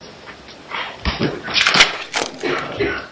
firing firing firing firing firing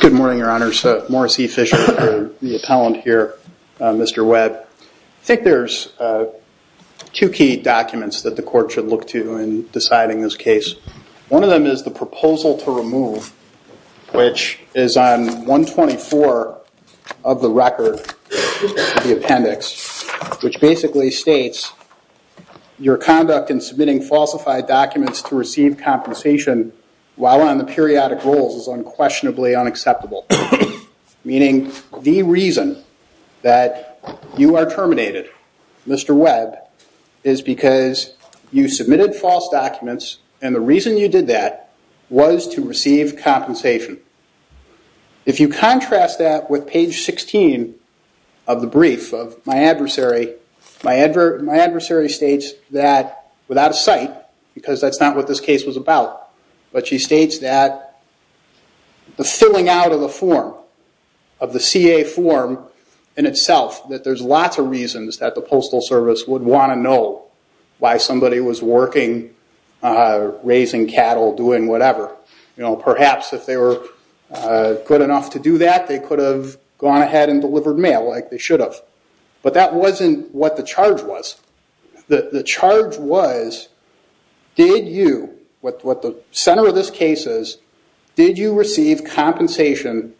Good morning, Your Honor. Morris E. Fisher, the appellant here, Mr. Webb. I think there's two key documents that the court should look to in deciding this case. One of them is the proposal to remove, which is on 124 of the record, the appendix, which basically states your conduct in submitting falsified documents to receive compensation while on the periodic rules is unquestionably unacceptable, meaning the reason that you are terminated, Mr. Webb, is because you submitted false documents and the reason you did that was to receive compensation. If you contrast that with page 16 of the brief of my adversary, my adversary states that without a sight, because that's not what this case was about, but she states that the filling out of the form, of the CA form in itself, that there's lots of reasons that the Postal Service would want to know why somebody was working, raising cattle, doing whatever. Perhaps if they were good enough to do that, they could have gone ahead and delivered mail like they should have. But that wasn't what the charge was. The charge was, did you, what the center of this case is, did you receive compensation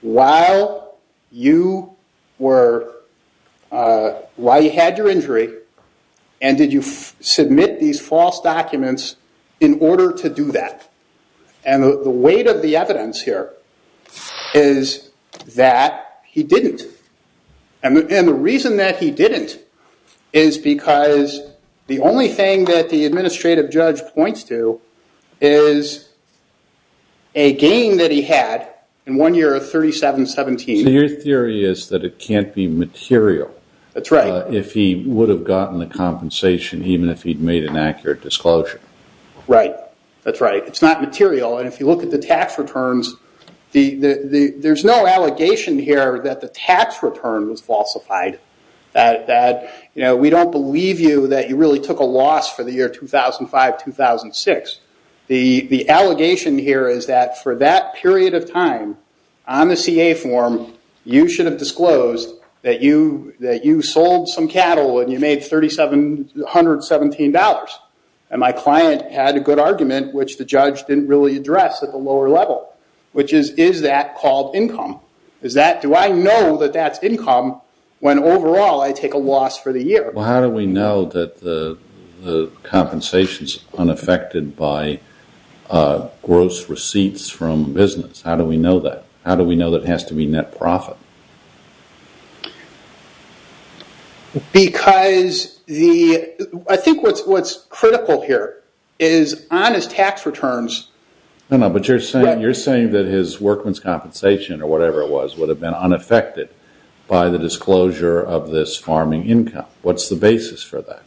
while you had your injury and did you submit these false documents in order to do that? And the weight of the evidence here is that he didn't. And the reason that he didn't is because the only thing that the administrative judge points to is a gain that he had in one year of 3717. So your theory is that it can't be material. That's right. If he would have gotten the compensation, even if he'd made an accurate disclosure. Right. That's right. It's not material. And if you look at the tax returns, there's no allegation here that the tax return was falsified, that we don't believe you that you really took a loss for the year 2005-2006. The allegation here is that for that period of time, on the CA form, you should have disclosed that you sold some cattle and you made $3717. And my client had a good argument, which the judge didn't really address at the lower level, which is, is that called income? Do I know that that's income when overall I take a loss for the year? Well, how do we know that the compensation is unaffected by gross receipts from business? How do we know that? How do we know that it has to be net profit? Because I think what's critical here is on his tax returns. But you're saying that his workman's compensation or whatever it was would have been unaffected by the disclosure of this farming income. What's the basis for that?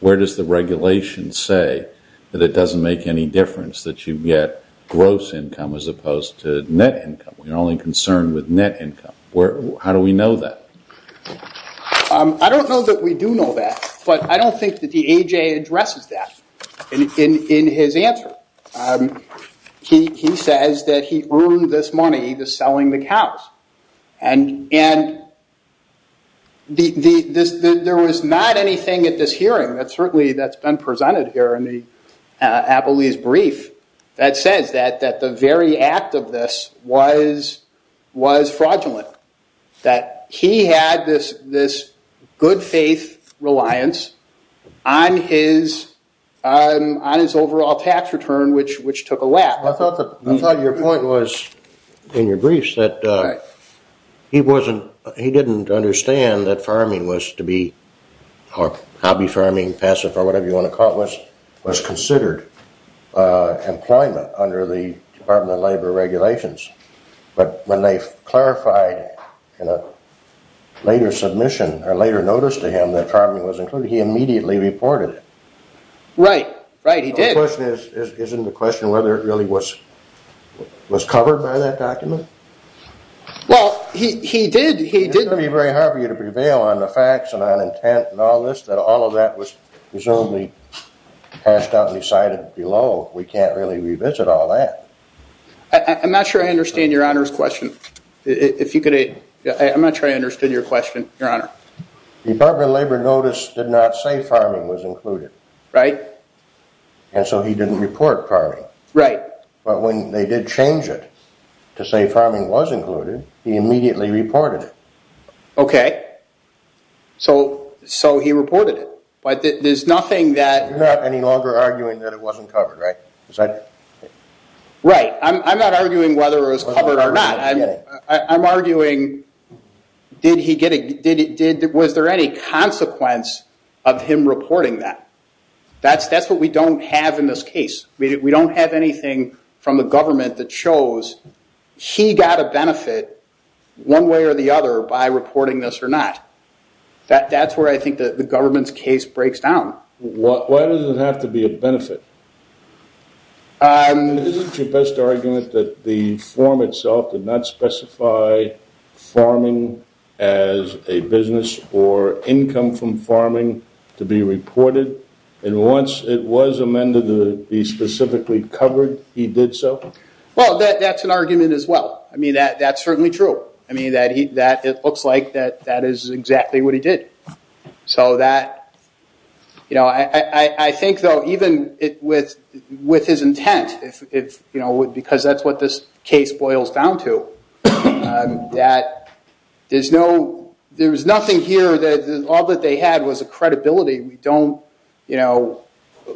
Where does the regulation say that it doesn't make any difference that you get gross income as opposed to net income? We're only concerned with net income. How do we know that? I don't know that we do know that, but I don't think that the AJ addresses that in his answer. He says that he earned this money just selling the cows. And there was not anything at this hearing, certainly that's been presented here in the Applebee's brief, that says that the very act of this was fraudulent. That he had this good faith reliance on his overall tax return, which took a lap. I thought your point was in your briefs that he didn't understand that farming was to be hobby farming, passive, or whatever you want to call it, was considered employment under the Department of Labor regulations. But when they clarified in a later submission or later notice to him that farming was included, he immediately reported it. Right, right, he did. The question is, isn't the question whether it really was covered by that document? Well, he did, he did. It's going to be very hard for you to prevail on the facts and on intent and all this, that all of that was presumably hashed out and decided below. We can't really revisit all that. I'm not sure I understand your honor's question. If you could, I'm not sure I understood your question, your honor. The Department of Labor notice did not say farming was included. Right. And so he didn't report farming. Right. But when they did change it to say farming was included, he immediately reported it. Okay. So, so he reported it. But there's nothing that... You're not any longer arguing that it wasn't covered, right? Right. I'm not arguing whether it was covered or not. I'm arguing, was there any consequence of him reporting that? That's what we don't have in this case. We don't have anything from the government that shows he got a benefit one way or the other by reporting this or not. That's where I think the government's case breaks down. Why does it have to be a benefit? Isn't your best argument that the form itself did not specify farming as a business or income from farming to be reported? And once it was amended to be specifically covered, he did so? Well, that's an argument as well. I mean, that's certainly true. I mean, it looks like that is exactly what he did. So that, you know, I think, though, even with his intent, you know, because that's what this case boils down to, that there's nothing here that all that they had was a credibility. We don't, you know,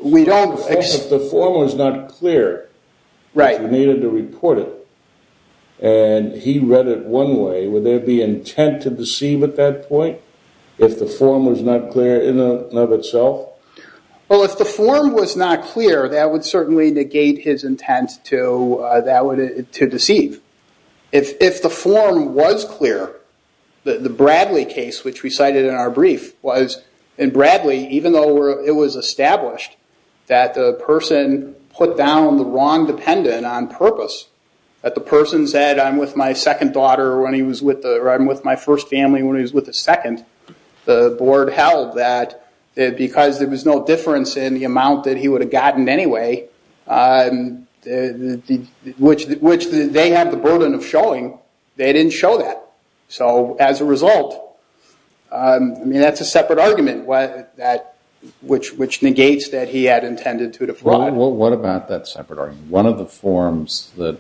we don't... If the form was not clear that you needed to report it, and he read it one way, would there be intent to deceive at that point if the form was not clear in and of itself? Well, if the form was not clear, that would certainly negate his intent to deceive. If the form was clear, the Bradley case, which we cited in our brief, was in Bradley, even though it was established that the person put down the wrong dependent on purpose, that the person said, I'm with my second daughter, or I'm with my first family when he was with his second. The board held that because there was no difference in the amount that he would have gotten anyway, which they have the burden of showing, they didn't show that. So as a result, I mean, that's a separate argument, which negates that he had intended to defraud. Well, what about that separate argument? One of the forms that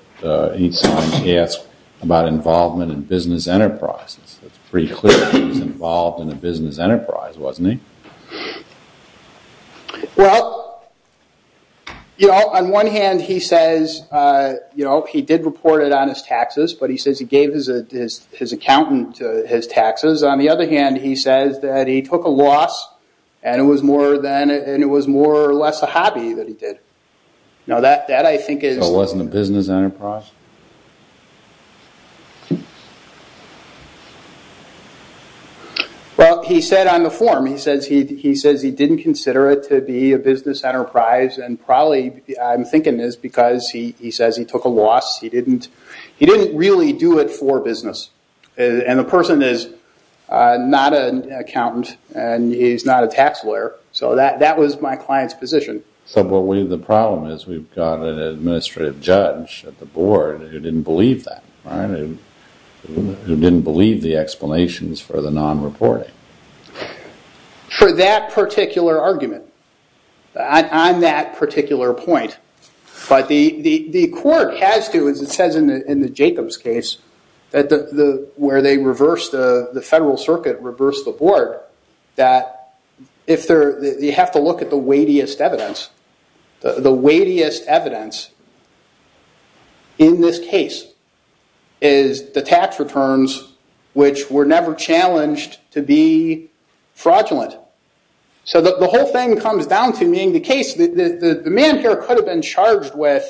he signed asked about involvement in business enterprises. It's pretty clear he was involved in a business enterprise, wasn't he? Well, you know, on one hand, he says, you know, he did report it on his taxes, but he says he gave his accountant his taxes. On the other hand, he says that he took a loss, and it was more or less a hobby that he did. So it wasn't a business enterprise? Well, he said on the form, he says he didn't consider it to be a business enterprise, and probably I'm thinking this because he says he took a loss. He didn't really do it for business, and the person is not an accountant, and he's not a tax lawyer. So that was my client's position. So the problem is we've got an administrative judge at the board who didn't believe that, who didn't believe the explanations for the non-reporting. For that particular argument, on that particular point, but the court has to, as it says in the Jacobs case, where the Federal Circuit reversed the board, that you have to look at the weightiest evidence. The weightiest evidence in this case is the tax returns, which were never challenged to be fraudulent. So the whole thing comes down to being the case. The man here could have been charged with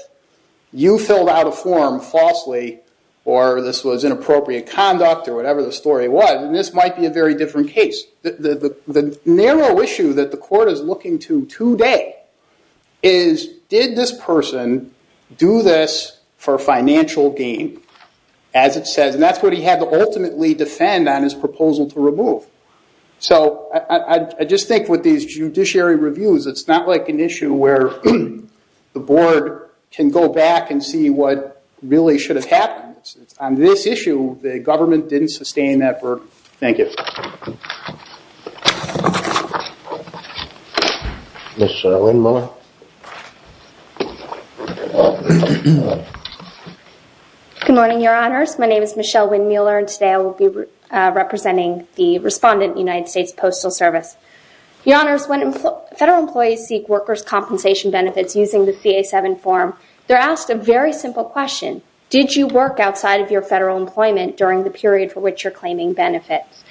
you filled out a form falsely, or this was inappropriate conduct, or whatever the story was, and this might be a very different case. The narrow issue that the court is looking to today is did this person do this for financial gain, as it says, and that's what he had to ultimately defend on his proposal to remove. So I just think with these judiciary reviews, it's not like an issue where the board can go back and see what really should have happened. On this issue, the government didn't sustain that verdict. Thank you. Ms. Winmuller. Good morning, Your Honors. My name is Michelle Winmuller, and today I will be representing the respondent, United States Postal Service. Your Honors, when Federal employees seek workers' compensation benefits using the VA-7 form, they're asked a very simple question. Did you work outside of your Federal employment during the period for which you're claiming benefits?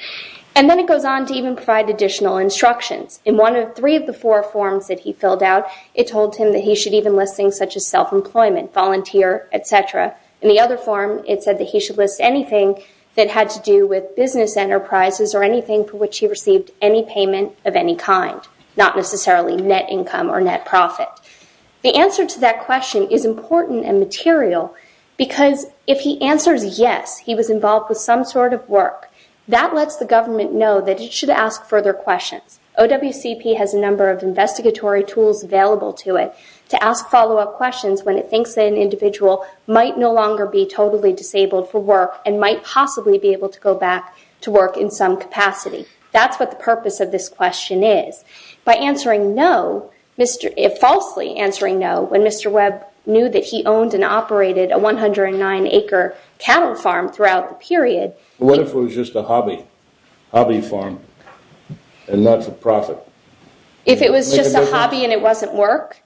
And then it goes on to even provide additional instructions. In one of three of the four forms that he filled out, it told him that he should even list things such as self-employment, volunteer, et cetera. In the other form, it said that he should list anything that had to do with business enterprises or anything for which he received any payment of any kind, not necessarily net income or net profit. The answer to that question is important and material, because if he answers yes, he was involved with some sort of work, that lets the government know that it should ask further questions. OWCP has a number of investigatory tools available to it to ask follow-up questions when it thinks that an individual might no longer be totally disabled for work and might possibly be able to go back to work in some capacity. That's what the purpose of this question is. By answering no, falsely answering no, when Mr. Webb knew that he owned and operated a 109-acre cattle farm throughout the period. What if it was just a hobby farm and not for profit? If it was just a hobby and it wasn't work?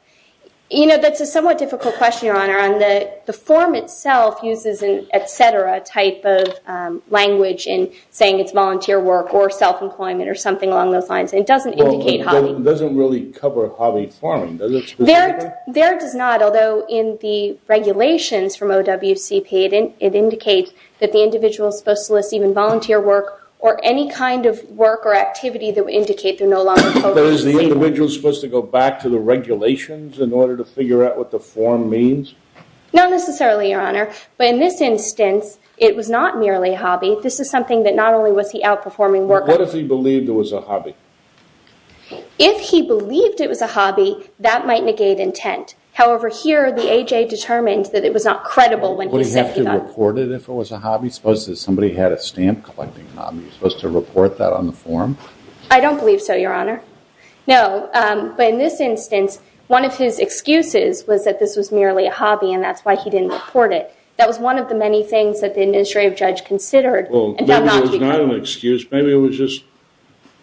You know, that's a somewhat difficult question, Your Honor. The form itself uses an et cetera type of language in saying it's volunteer work or self-employment or something along those lines. It doesn't indicate hobby. Well, it doesn't really cover hobby farming. Does it specifically? There it does not, although in the regulations from OWCP, it indicates that the individual is supposed to list even volunteer work or any kind of work or activity that would indicate they're no longer totally disabled. But is the individual supposed to go back to the regulations in order to figure out what the form means? Not necessarily, Your Honor. But in this instance, it was not merely a hobby. This is something that not only was he outperforming work. What if he believed it was a hobby? If he believed it was a hobby, that might negate intent. However, here the AJ determined that it was not credible when he said he thought. Would he have to report it if it was a hobby? Suppose that somebody had a stamp collecting hobby. Was he supposed to report that on the form? I don't believe so, Your Honor. No, but in this instance, one of his excuses was that this was merely a hobby and that's why he didn't report it. That was one of the many things that the administrative judge considered. Well, maybe it was not an excuse. Maybe it was just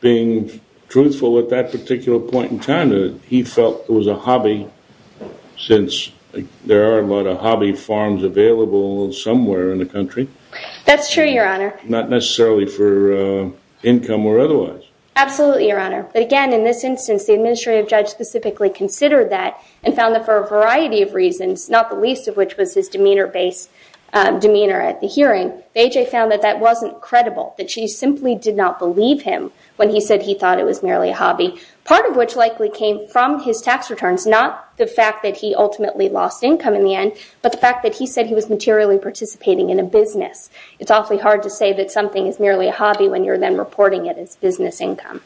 being truthful at that particular point in time. He felt it was a hobby since there are a lot of hobby farms available somewhere in the country. That's true, Your Honor. Not necessarily for income or otherwise. Absolutely, Your Honor. But again, in this instance, the administrative judge specifically considered that and found that for a variety of reasons, not the least of which was his demeanor at the hearing. AJ found that that wasn't credible, that she simply did not believe him when he said he thought it was merely a hobby, part of which likely came from his tax returns, not the fact that he ultimately lost income in the end, but the fact that he said he was materially participating in a business. It's awfully hard to say that something is merely a hobby when you're then reporting it as business income.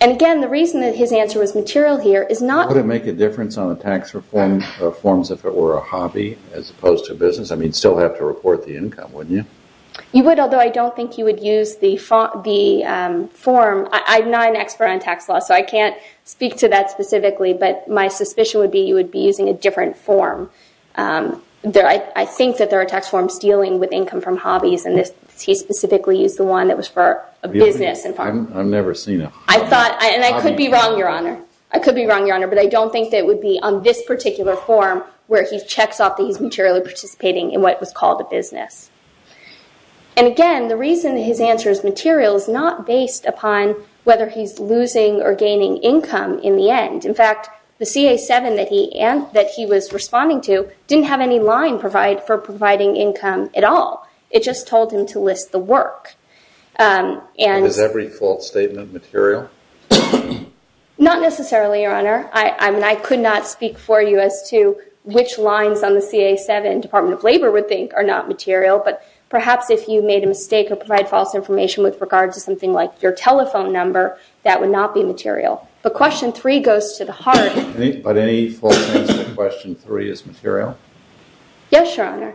And again, the reason that his answer was material here is not... Would it make a difference on the tax reforms if it were a hobby as opposed to business? I mean, you'd still have to report the income, wouldn't you? You would, although I don't think you would use the form. I'm not an expert on tax law, so I can't speak to that specifically, but my suspicion would be you would be using a different form. I think that there are tax forms dealing with income from hobbies, and he specifically used the one that was for a business. I've never seen a hobby... And I could be wrong, Your Honor. I could be wrong, Your Honor, but I don't think that it would be on this particular form where he checks off that he's materially participating in what was called a business. And again, the reason his answer is material is not based upon whether he's losing or gaining income in the end. In fact, the CA-7 that he was responding to didn't have any line for providing income at all. It just told him to list the work. Is every false statement material? Not necessarily, Your Honor. I mean, I could not speak for you as to which lines on the CA-7 Department of Labor would think are not material, but perhaps if you made a mistake or provide false information with regard to something like your telephone number, that would not be material. But question three goes to the heart. But any false answer to question three is material? Yes, Your Honor.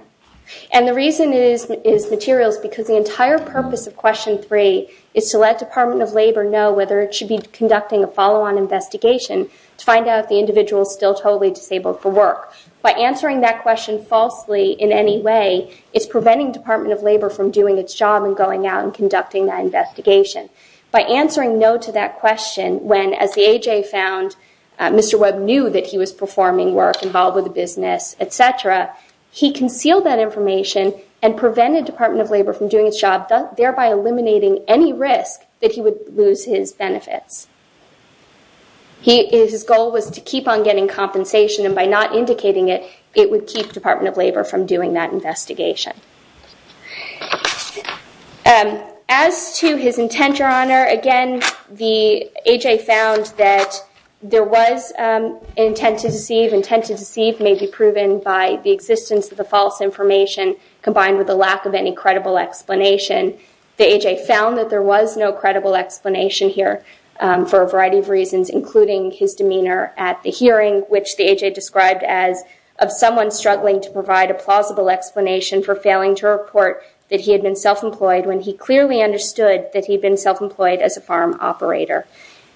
And the reason it is material is because the entire purpose of question three is to let Department of Labor know whether it should be conducting a follow-on investigation to find out if the individual is still totally disabled for work. By answering that question falsely in any way, it's preventing Department of Labor from doing its job and going out and conducting that investigation. By answering no to that question when, as the AJ found, Mr. Webb knew that he was performing work involved with a business, et cetera, he concealed that information and prevented Department of Labor from doing its job, thereby eliminating any risk that he would lose his benefits. His goal was to keep on getting compensation, and by not indicating it, it would keep Department of Labor from doing that investigation. As to his intent, Your Honor, again, the AJ found that there was intent to deceive. Intent to deceive may be proven by the existence of the false information combined with the lack of any credible explanation. The AJ found that there was no credible explanation here for a variety of reasons, including his demeanor at the hearing, which the AJ described as of someone struggling to provide a plausible explanation for failing to report that he had been self-employed when he clearly understood that he had been self-employed as a farm operator.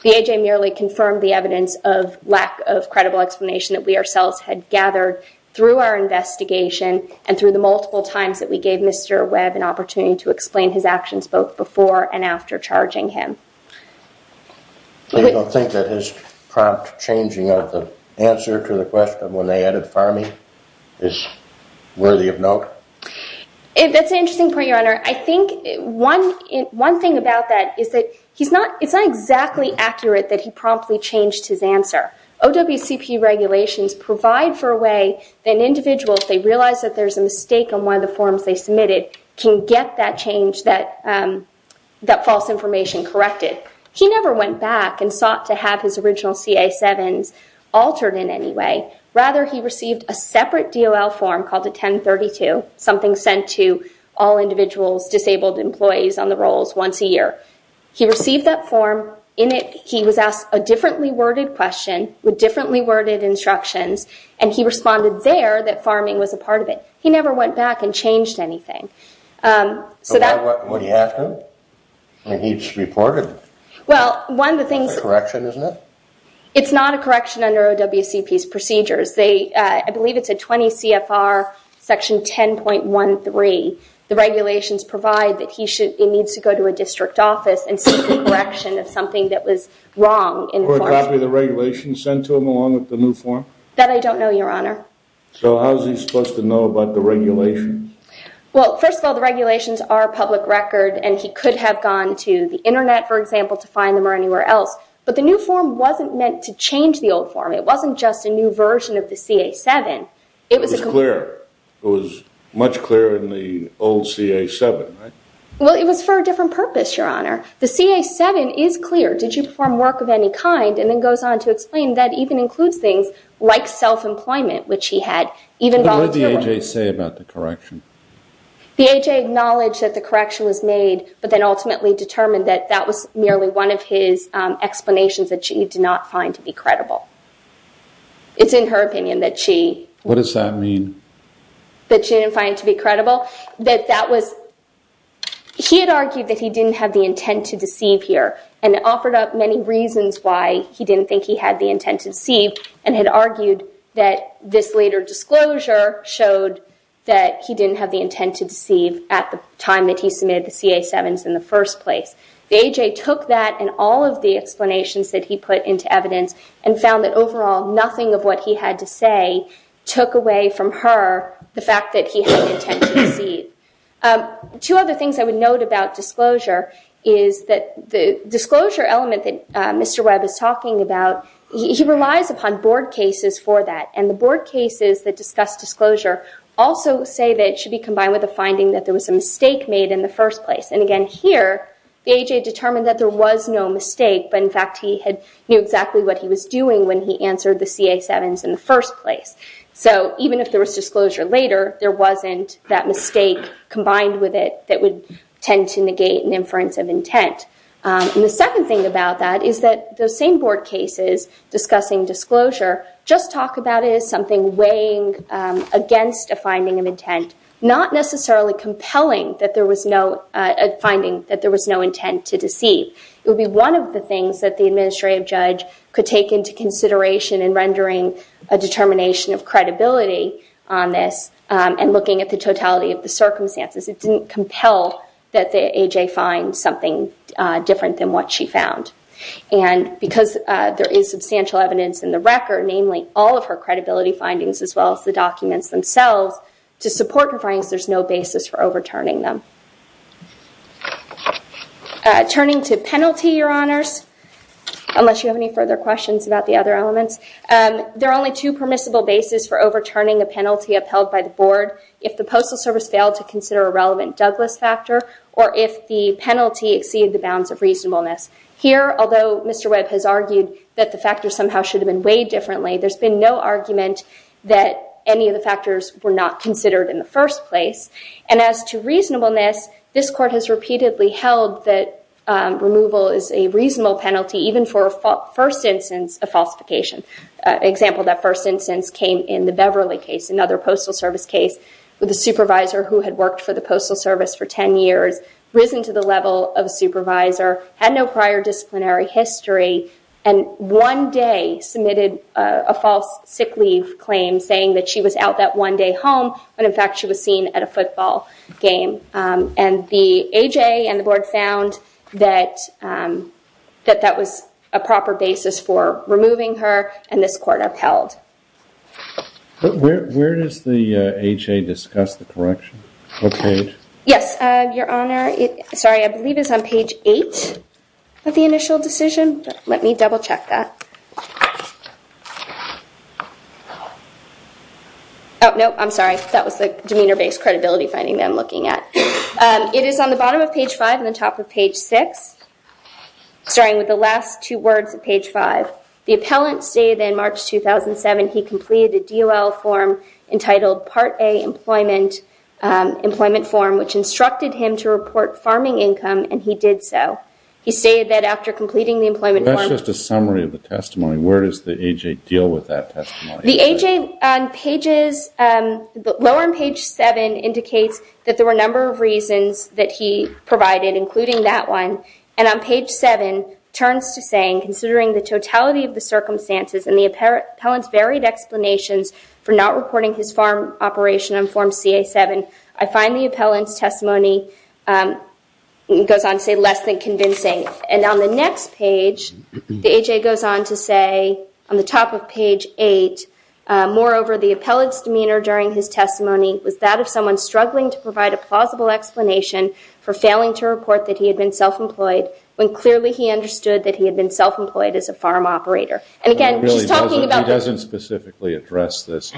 The AJ merely confirmed the evidence of lack of credible explanation that we ourselves had gathered through our investigation and through the multiple times that we gave Mr. Webb an opportunity to explain his actions both before and after charging him. So you don't think that his prompt changing of the answer to the question when they added farming is worthy of note? That's an interesting point, Your Honor. I think one thing about that is that it's not exactly accurate that he promptly changed his answer. OWCP regulations provide for a way that an individual, if they realize that there's a mistake on one of the forms they submitted, can get that change, that false information, corrected. He never went back and sought to have his original CA-7s altered in any way. Rather, he received a separate DOL form called a 1032, something sent to all individuals, disabled employees, on the rolls once a year. He received that form. In it, he was asked a differently worded question with differently worded instructions, and he responded there that farming was a part of it. He never went back and changed anything. So why would he have to? I mean, he just reported it. Well, one of the things... It's a correction, isn't it? It's not a correction under OWCP's procedures. I believe it's a 20 CFR section 10.13. The regulations provide that he needs to go to a district office and seek the correction of something that was wrong in the form. Or a copy of the regulations sent to him along with the new form? That I don't know, Your Honor. So how is he supposed to know about the regulations? Well, first of all, the regulations are public record, and he could have gone to the internet, for example, to find them or anywhere else. But the new form wasn't meant to change the old form. It wasn't just a new version of the CA-7. It was clear. It was much clearer than the old CA-7, right? Well, it was for a different purpose, Your Honor. The CA-7 is clear. Did you perform work of any kind? And then goes on to explain that even includes things like self-employment, which he had even volunteered on. But what did the A.J. say about the correction? The A.J. acknowledged that the correction was made, but then ultimately determined that that was merely one of his explanations that she did not find to be credible. It's in her opinion that she... What does that mean? That she didn't find to be credible? That that was... He had argued that he didn't have the intent to deceive here and offered up many reasons why he didn't think he had the intent to deceive and had argued that this later disclosure showed that he didn't have the intent to deceive at the time that he submitted the CA-7s in the first place. The A.J. took that and all of the explanations that he put into evidence and found that overall nothing of what he had to say took away from her the fact that he had the intent to deceive. Two other things I would note about disclosure is that the disclosure element that Mr. Webb is talking about, he relies upon board cases for that. And the board cases that discuss disclosure also say that it should be combined with the finding that there was a mistake made in the first place. And again, here, the A.J. determined that there was no mistake, but in fact he had knew exactly what he was doing when he answered the CA-7s in the first place. So even if there was disclosure later, there wasn't that mistake combined with it that would tend to negate an inference of intent. And the second thing about that is that those same board cases discussing disclosure just talk about it as something weighing against a finding of intent, a finding that there was no intent to deceive. It would be one of the things that the administrative judge could take into consideration in rendering a determination of credibility on this and looking at the totality of the circumstances. It didn't compel that the A.J. find something different than what she found. And because there is substantial evidence in the record, namely all of her credibility findings as well as the documents themselves, to support her findings, there's no basis for overturning them. Turning to penalty, Your Honors, unless you have any further questions about the other elements, there are only two permissible bases for overturning a penalty upheld by the board. If the Postal Service failed to consider a relevant Douglas factor or if the penalty exceeded the bounds of reasonableness. Here, although Mr. Webb has argued that the factors somehow should have been weighed differently, there's been no argument that any of the factors were not considered in the first place. And as to reasonableness, this Court has repeatedly held that removal is a reasonable penalty even for a first instance of falsification. An example of that first instance came in the Beverly case, another Postal Service case, with a supervisor who had worked for the Postal Service for 10 years, risen to the level of a supervisor, had no prior disciplinary history, and one day submitted a false sick leave claim saying that she was out that one day home when in fact she was seen at a football game. And the A.J. and the board found that that was a proper basis for removing her, and this Court upheld. Where does the A.J. discuss the correction? What page? Yes, Your Honor. Sorry, I believe it's on page 8 of the initial decision. Let me double-check that. Oh, no, I'm sorry. That was the demeanor-based credibility finding that I'm looking at. It is on the bottom of page 5 and the top of page 6, starting with the last two words of page 5. The appellant stated that in March 2007 he completed a DOL form entitled Part A Employment Form, which instructed him to report farming income, and he did so. He stated that after completing the employment form... Where does the A.J. deal with that testimony? The A.J. on pages... Lower on page 7 indicates that there were a number of reasons that he provided, including that one, and on page 7 turns to saying, considering the totality of the circumstances and the appellant's varied explanations for not reporting his farm operation on Form CA-7, I find the appellant's testimony... And on the next page, the A.J. goes on to say, on the top of page 8, moreover, the appellant's demeanor during his testimony was that of someone struggling to provide a plausible explanation for failing to report that he had been self-employed when clearly he understood that he had been self-employed as a farm operator. And again, she's talking about... He doesn't specifically address this.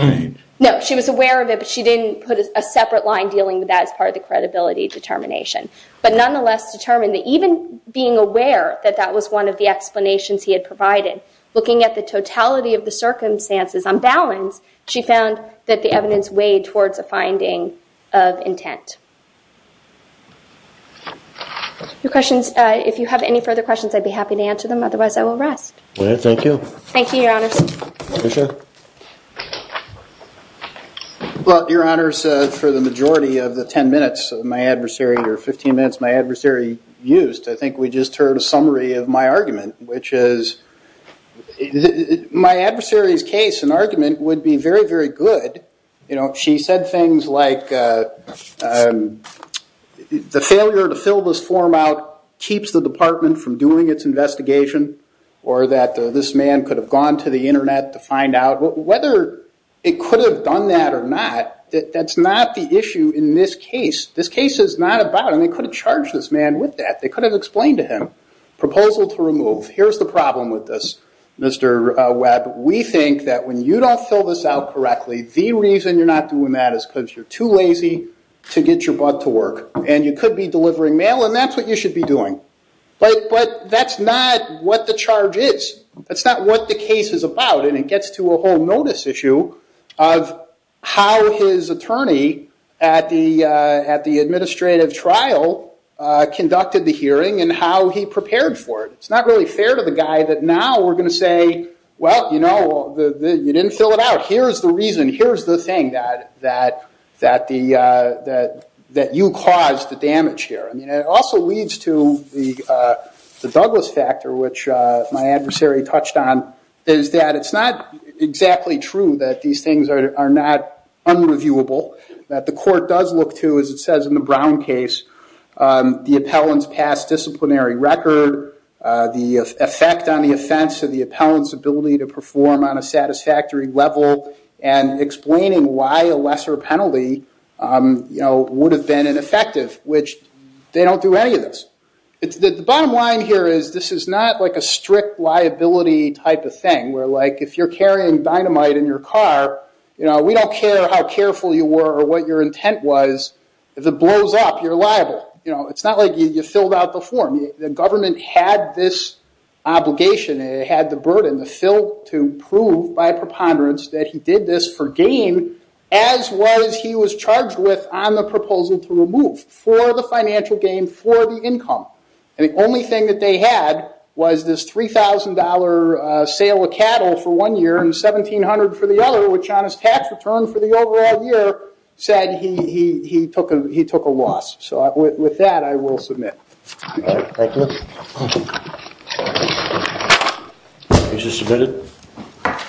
No, she was aware of it, but she didn't put a separate line dealing with that as part of the credibility determination, but nonetheless determined that even being aware that that was one of the explanations he had provided, looking at the totality of the circumstances on balance, she found that the evidence weighed towards a finding of intent. If you have any further questions, I'd be happy to answer them. Otherwise, I will rest. Thank you, Your Honors. Commissioner? Well, Your Honors, for the majority of the 10 minutes or 15 minutes my adversary used, I think we just heard a summary of my argument, which is my adversary's case and argument would be very, very good. She said things like, the failure to fill this form out keeps the department from doing its investigation, or that this man could have gone to the Internet to find out. Whether it could have done that or not, that's not the issue in this case. This case is not about... And they could have charged this man with that. They could have explained to him, proposal to remove. Here's the problem with this, Mr. Webb. We think that when you don't fill this out correctly, the reason you're not doing that is because you're too lazy to get your butt to work. And you could be delivering mail, and that's what you should be doing. But that's not what the charge is. That's not what the case is about. And it gets to a whole notice issue of how his attorney at the administrative trial conducted the hearing and how he prepared for it. It's not really fair to the guy that now we're going to say, well, you didn't fill it out. Here's the reason. Here's the thing that you caused the damage here. It also leads to the Douglas factor, which my adversary touched on, is that it's not exactly true that these things are not unreviewable. The court does look to, as it says in the Brown case, the appellant's past disciplinary record, the effect on the offense of the appellant's ability to perform on a satisfactory level, and explaining why a lesser penalty would have been ineffective, which they don't do any of this. The bottom line here is this is not a strict liability type of thing, where if you're carrying dynamite in your car, we don't care how careful you were or what your intent was. If it blows up, you're liable. It's not like you filled out the form. The government had this obligation, it had the burden to prove by preponderance that he did this for gain as well as he was charged with on the proposal to remove, for the financial gain, for the income. The only thing that they had was this $3,000 sale of cattle for one year and $1,700 for the other, which on his tax return for the overall year said he took a loss. With that, I will submit. Thank you. Case is submitted.